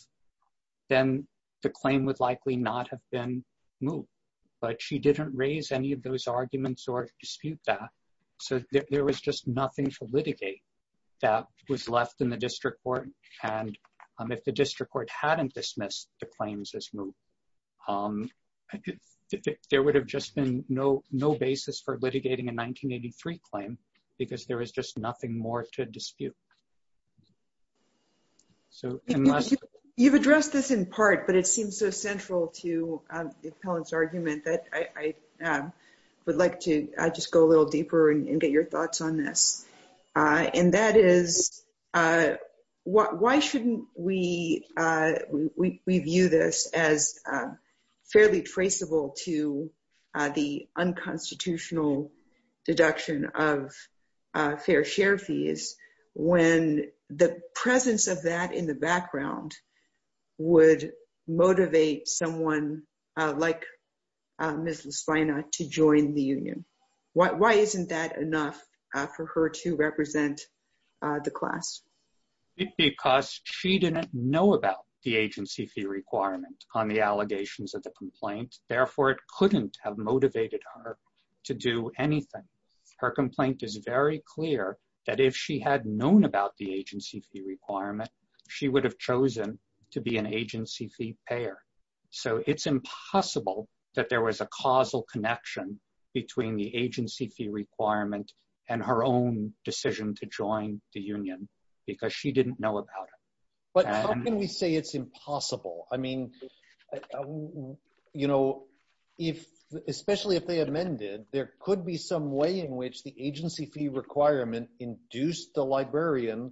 then the claim would likely not have been moot. But she didn't raise any of those arguments or dispute that. So there was just nothing to litigate that was left in the district court. And if the district court hadn't dismissed the claims as moot, there would have just been no basis for litigating a 1983 claim, because there was just nothing more to dispute. So unless... And the presence of that in the background would motivate someone like Ms. Lasvina to join the union. Why isn't that enough for her to represent the class? Because she didn't know about the agency fee requirement on the allegations of the complaint. Therefore, it couldn't have motivated her to do anything. Her complaint is very clear that if she had known about the agency fee requirement, she would have chosen to be an agency fee payer. So it's impossible that there was a causal connection between the agency fee requirement and her own decision to join the union, because she didn't know about it. But how can we say it's impossible? I mean, you know, especially if they amended, there could be some way in which the agency fee requirement induced the librarian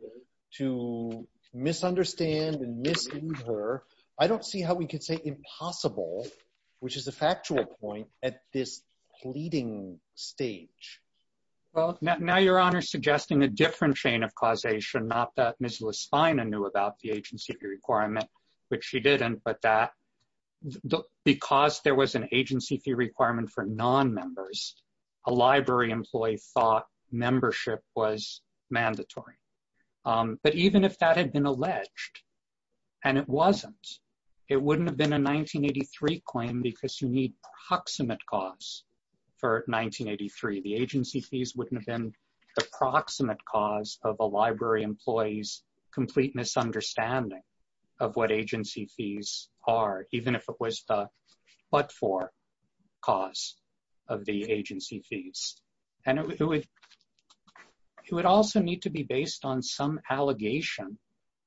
to misunderstand and mislead her. I don't see how we could say impossible, which is a factual point at this pleading stage. Well, now Your Honor is suggesting a different chain of causation, not that Ms. Lasvina knew about the agency fee requirement, which she didn't, but that because there was an agency fee requirement for non-members, a library employee thought membership was mandatory. But even if that had been alleged, and it wasn't, it wouldn't have been a 1983 claim because you need proximate cause for 1983. The agency fees wouldn't have been the proximate cause of a library employee's complete misunderstanding of what agency fees are, even if it was the but-for cause of the agency fees. And it would also need to be based on some allegation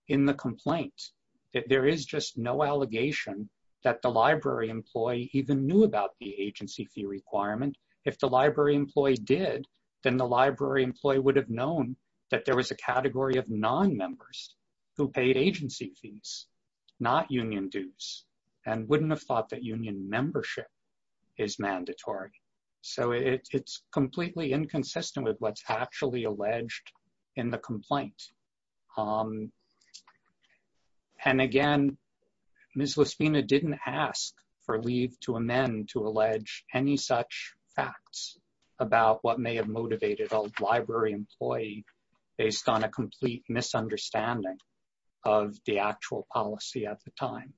in the complaint that there is just no allegation that the library employee even knew about the agency fee requirement. If the library employee did, then the library employee would have known that there was a category of non-members who paid agency fees, not union dues, and wouldn't have thought that union membership is mandatory. So it's completely inconsistent with what's actually alleged in the complaint. And again, Ms. Lasvina didn't ask for leave to amend to allege any such facts about what may have motivated a library employee based on a complete misunderstanding of the actual policy at the time.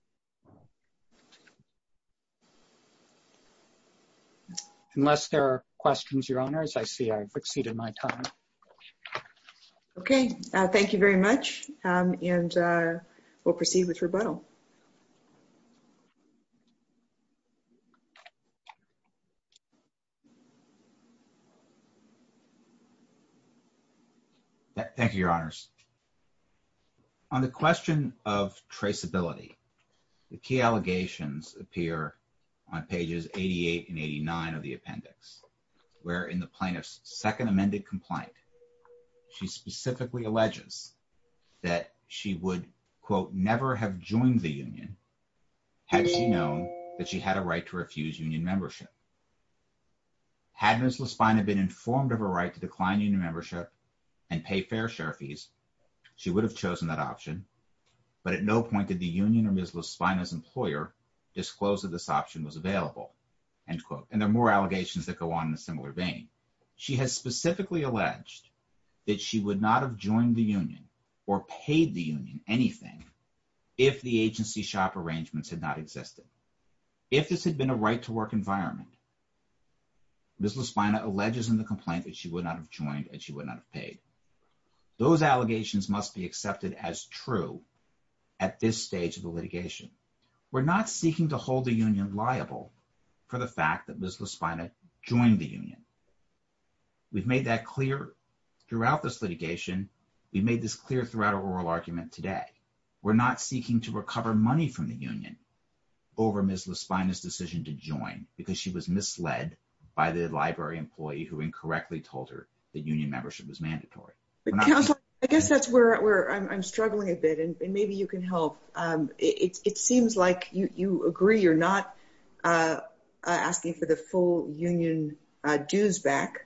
Unless there are questions, Your Honors, I see I've exceeded my time. Okay, thank you very much. And we'll proceed with rebuttal. Thank you, Your Honors. On the question of traceability, the key allegations appear on pages 88 and 89 of the appendix, where in the plaintiff's second amended complaint, she specifically alleges that she would, quote, never have joined the union had she known that she had a right to remain in the union. She has specifically alleged that she would not have joined the union or paid the union anything if the agency shop arrangements had not existed. Ms. Lasvina alleges in the complaint that she would not have joined and she would not have paid. Those allegations must be accepted as true at this stage of the litigation. We're not seeking to hold the union liable for the fact that Ms. Lasvina joined the union. We've made that clear throughout this litigation. We made this clear throughout our oral argument today. We're not seeking to recover money from the union over Ms. Lasvina's decision to join because she was misled by the library employee who incorrectly told her that union membership was mandatory. Counselor, I guess that's where I'm struggling a bit and maybe you can help. It seems like you agree you're not asking for the full union dues back.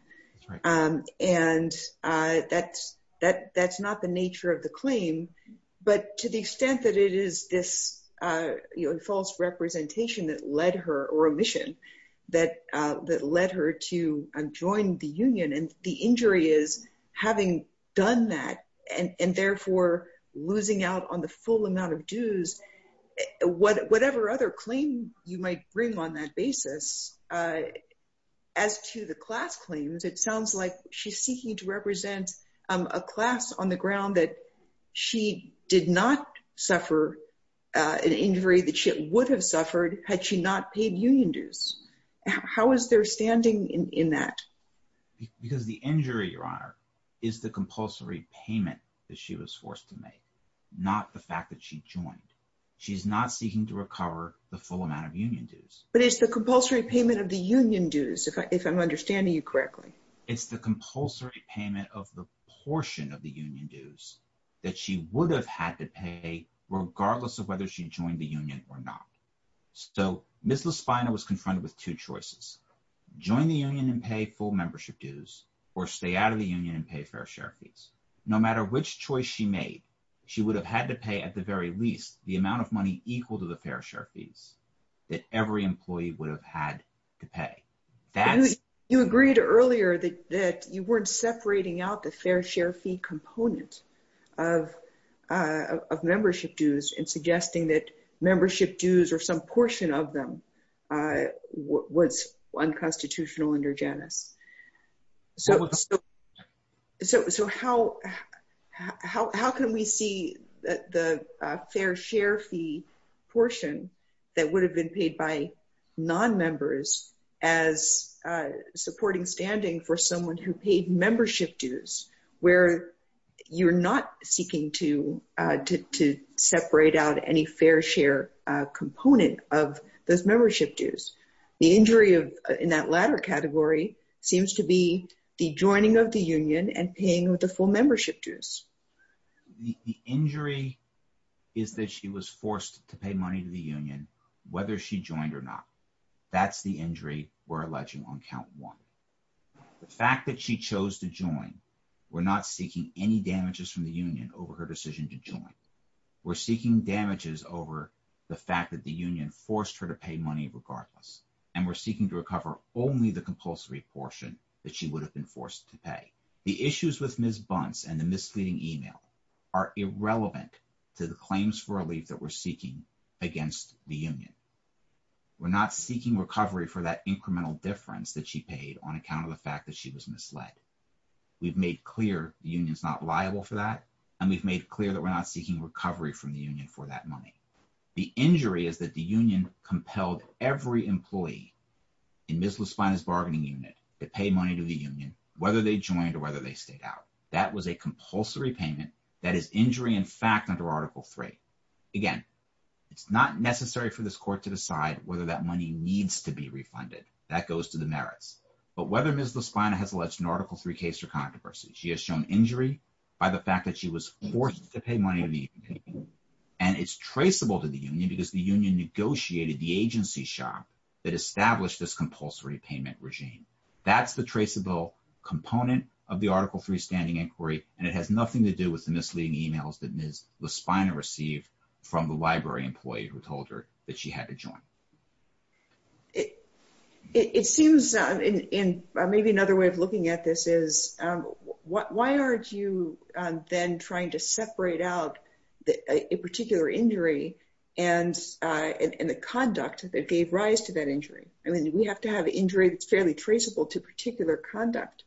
And that's not the nature of the claim. But to the extent that it is this false representation that led her or a mission that led her to join the union and the injury is having done that and therefore losing out on the full amount of dues. Whatever other claim you might bring on that basis as to the class claims, it sounds like she's seeking to represent a class on the ground that she did not suffer an injury that she would have suffered had she not paid union dues. How is their standing in that? Because the injury, Your Honor, is the compulsory payment that she was forced to make, not the fact that she joined. She's not seeking to recover the full amount of union dues. But it's the compulsory payment of the union dues, if I'm understanding you correctly. It's the compulsory payment of the portion of the union dues that she would have had to pay, regardless of whether she joined the union or not. So, Ms. LaSpina was confronted with two choices. Join the union and pay full membership dues or stay out of the union and pay fair share fees. No matter which choice she made, she would have had to pay at the very least the amount of money equal to the fair share fees that every employee would have had to pay. You agreed earlier that you weren't separating out the fair share fee component of membership dues and suggesting that membership dues or some portion of them was unconstitutional under Janus. So, how can we see the fair share fee portion that would have been paid by non-members as supporting standing for someone who paid membership dues, where you're not seeking to separate out any fair share component of those membership dues? The injury in that latter category seems to be the joining of the union and paying with the full membership dues. The injury is that she was forced to pay money to the union, whether she joined or not. That's the injury we're alleging on count one. The fact that she chose to join, we're not seeking any damages from the union over her decision to join. We're seeking damages over the fact that the union forced her to pay money regardless. And we're seeking to recover only the compulsory portion that she would have been forced to pay. The issues with Ms. Bunce and the misleading email are irrelevant to the claims for relief that we're seeking against the union. We're not seeking recovery for that incremental difference that she paid on account of the fact that she was misled. We've made clear the union's not liable for that, and we've made clear that we're not seeking recovery from the union for that money. The injury is that the union compelled every employee in Ms. Laspina's bargaining unit to pay money to the union, whether they joined or whether they stayed out. That was a compulsory payment. That is injury in fact under Article III. Again, it's not necessary for this court to decide whether that money needs to be refunded. That goes to the merits. But whether Ms. Laspina has alleged an Article III case or controversy, she has shown injury by the fact that she was forced to pay money to the union. And it's traceable to the union because the union negotiated the agency shop that established this compulsory payment regime. That's the traceable component of the Article III standing inquiry, and it has nothing to do with the misleading emails that Ms. Laspina received from the library employee who told her that she had to join. It seems, and maybe another way of looking at this is, why aren't you then trying to separate out a particular injury and the conduct that gave rise to that injury? I mean, we have to have injury that's fairly traceable to particular conduct.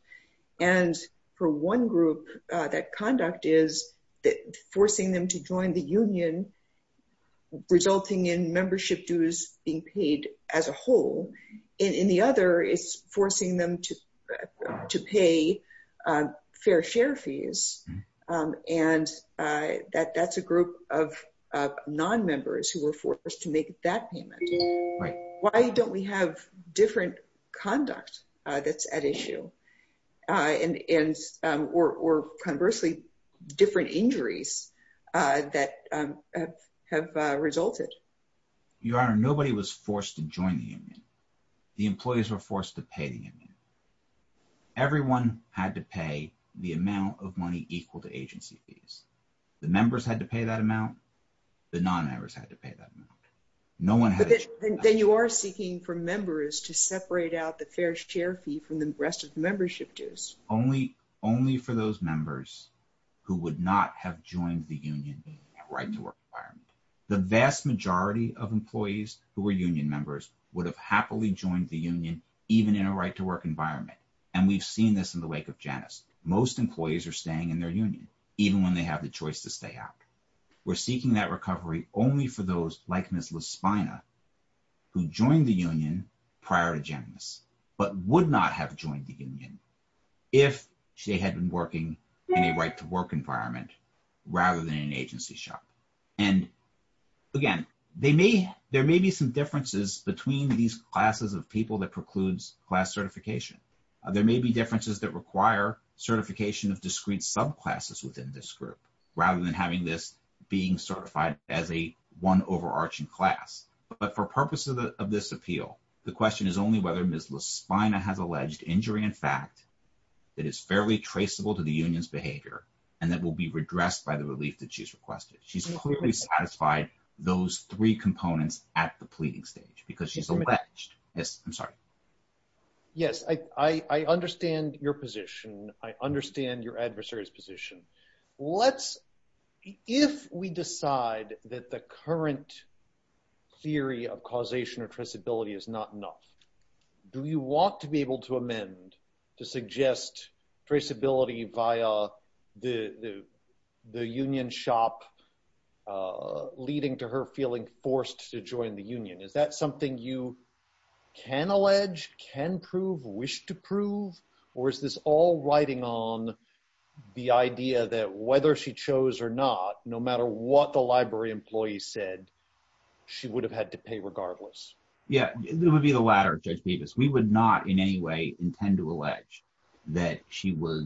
And for one group, that conduct is forcing them to join the union, resulting in membership dues being paid as a whole. In the other, it's forcing them to pay fair share fees. And that's a group of non-members who were forced to make that payment. Why don't we have different conduct that's at issue, or conversely, different injuries that have resulted? Your Honor, nobody was forced to join the union. The employees were forced to pay the union. Everyone had to pay the amount of money equal to agency fees. The members had to pay that amount, the non-members had to pay that amount. But then you are seeking for members to separate out the fair share fee from the rest of the membership dues. Only for those members who would not have joined the union in a right-to-work environment. The vast majority of employees who were union members would have happily joined the union even in a right-to-work environment. And we've seen this in the wake of Janice. Most employees are staying in their union, even when they have the choice to stay out. We're seeking that recovery only for those like Ms. LaSpina who joined the union prior to Janice, but would not have joined the union if she had been working in a right-to-work environment rather than an agency shop. And again, there may be some differences between these classes of people that precludes class certification. There may be differences that require certification of discrete subclasses within this group, rather than having this being certified as a one overarching class. But for purposes of this appeal, the question is only whether Ms. LaSpina has alleged injury in fact, that is fairly traceable to the union's behavior and that will be redressed by the relief that she's requested. She's clearly satisfied those three components at the pleading stage because she's alleged. Yes, I'm sorry. Yes, I understand your position. I understand your adversary's position. If we decide that the current theory of causation or traceability is not enough, do you want to be able to amend to suggest traceability via the union shop leading to her feeling forced to join the union? Is that something you can allege, can prove, wish to prove? Or is this all riding on the idea that whether she chose or not, no matter what the library employee said, she would have had to pay regardless? Yeah, it would be the latter, Judge Bevis. We would not in any way intend to allege that she was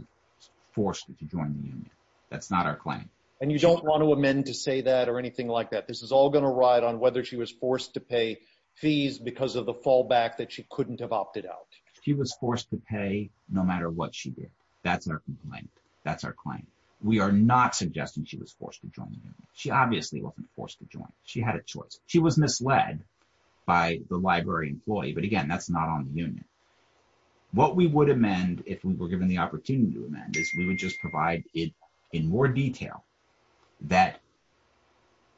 forced to join the union. That's not our claim. And you don't want to amend to say that or anything like that. This is all going to ride on whether she was forced to pay fees because of the fallback that she couldn't have opted out. She was forced to pay no matter what she did. That's our complaint. That's our claim. We are not suggesting she was forced to join the union. She obviously wasn't forced to join. She had a choice. She was misled by the library employee. But again, that's not on the union. What we would amend if we were given the opportunity to amend is we would just provide it in more detail that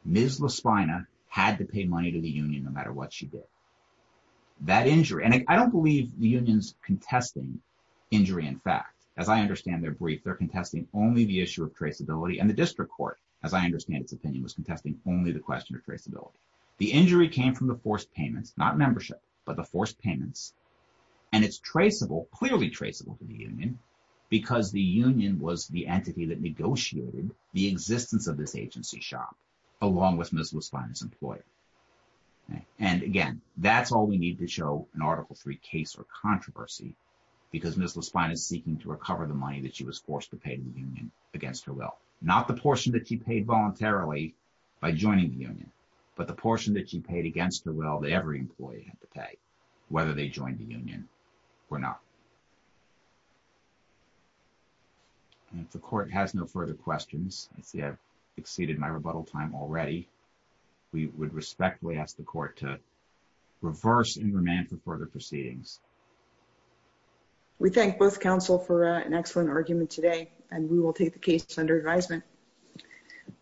Ms. LaSpina had to pay money to the union no matter what she did. That injury, and I don't believe the union's contesting injury in fact. As I understand their brief, they're contesting only the issue of traceability. And the district court, as I understand its opinion, was contesting only the question of traceability. The injury came from the forced payments, not membership, but the forced payments. And it's traceable, clearly traceable to the union because the union was the entity that negotiated the existence of this agency shop along with Ms. LaSpina's employer. And again, that's all we need to show an Article III case or controversy because Ms. LaSpina is seeking to recover the money that she was forced to pay to the union against her will. Not the portion that she paid voluntarily by joining the union, but the portion that she paid against her will that every employee had to pay, whether they joined the union or not. And if the court has no further questions, I see I've exceeded my rebuttal time already, we would respectfully ask the court to reverse and remand for further proceedings. We thank both counsel for an excellent argument today, and we will take the case under advisement.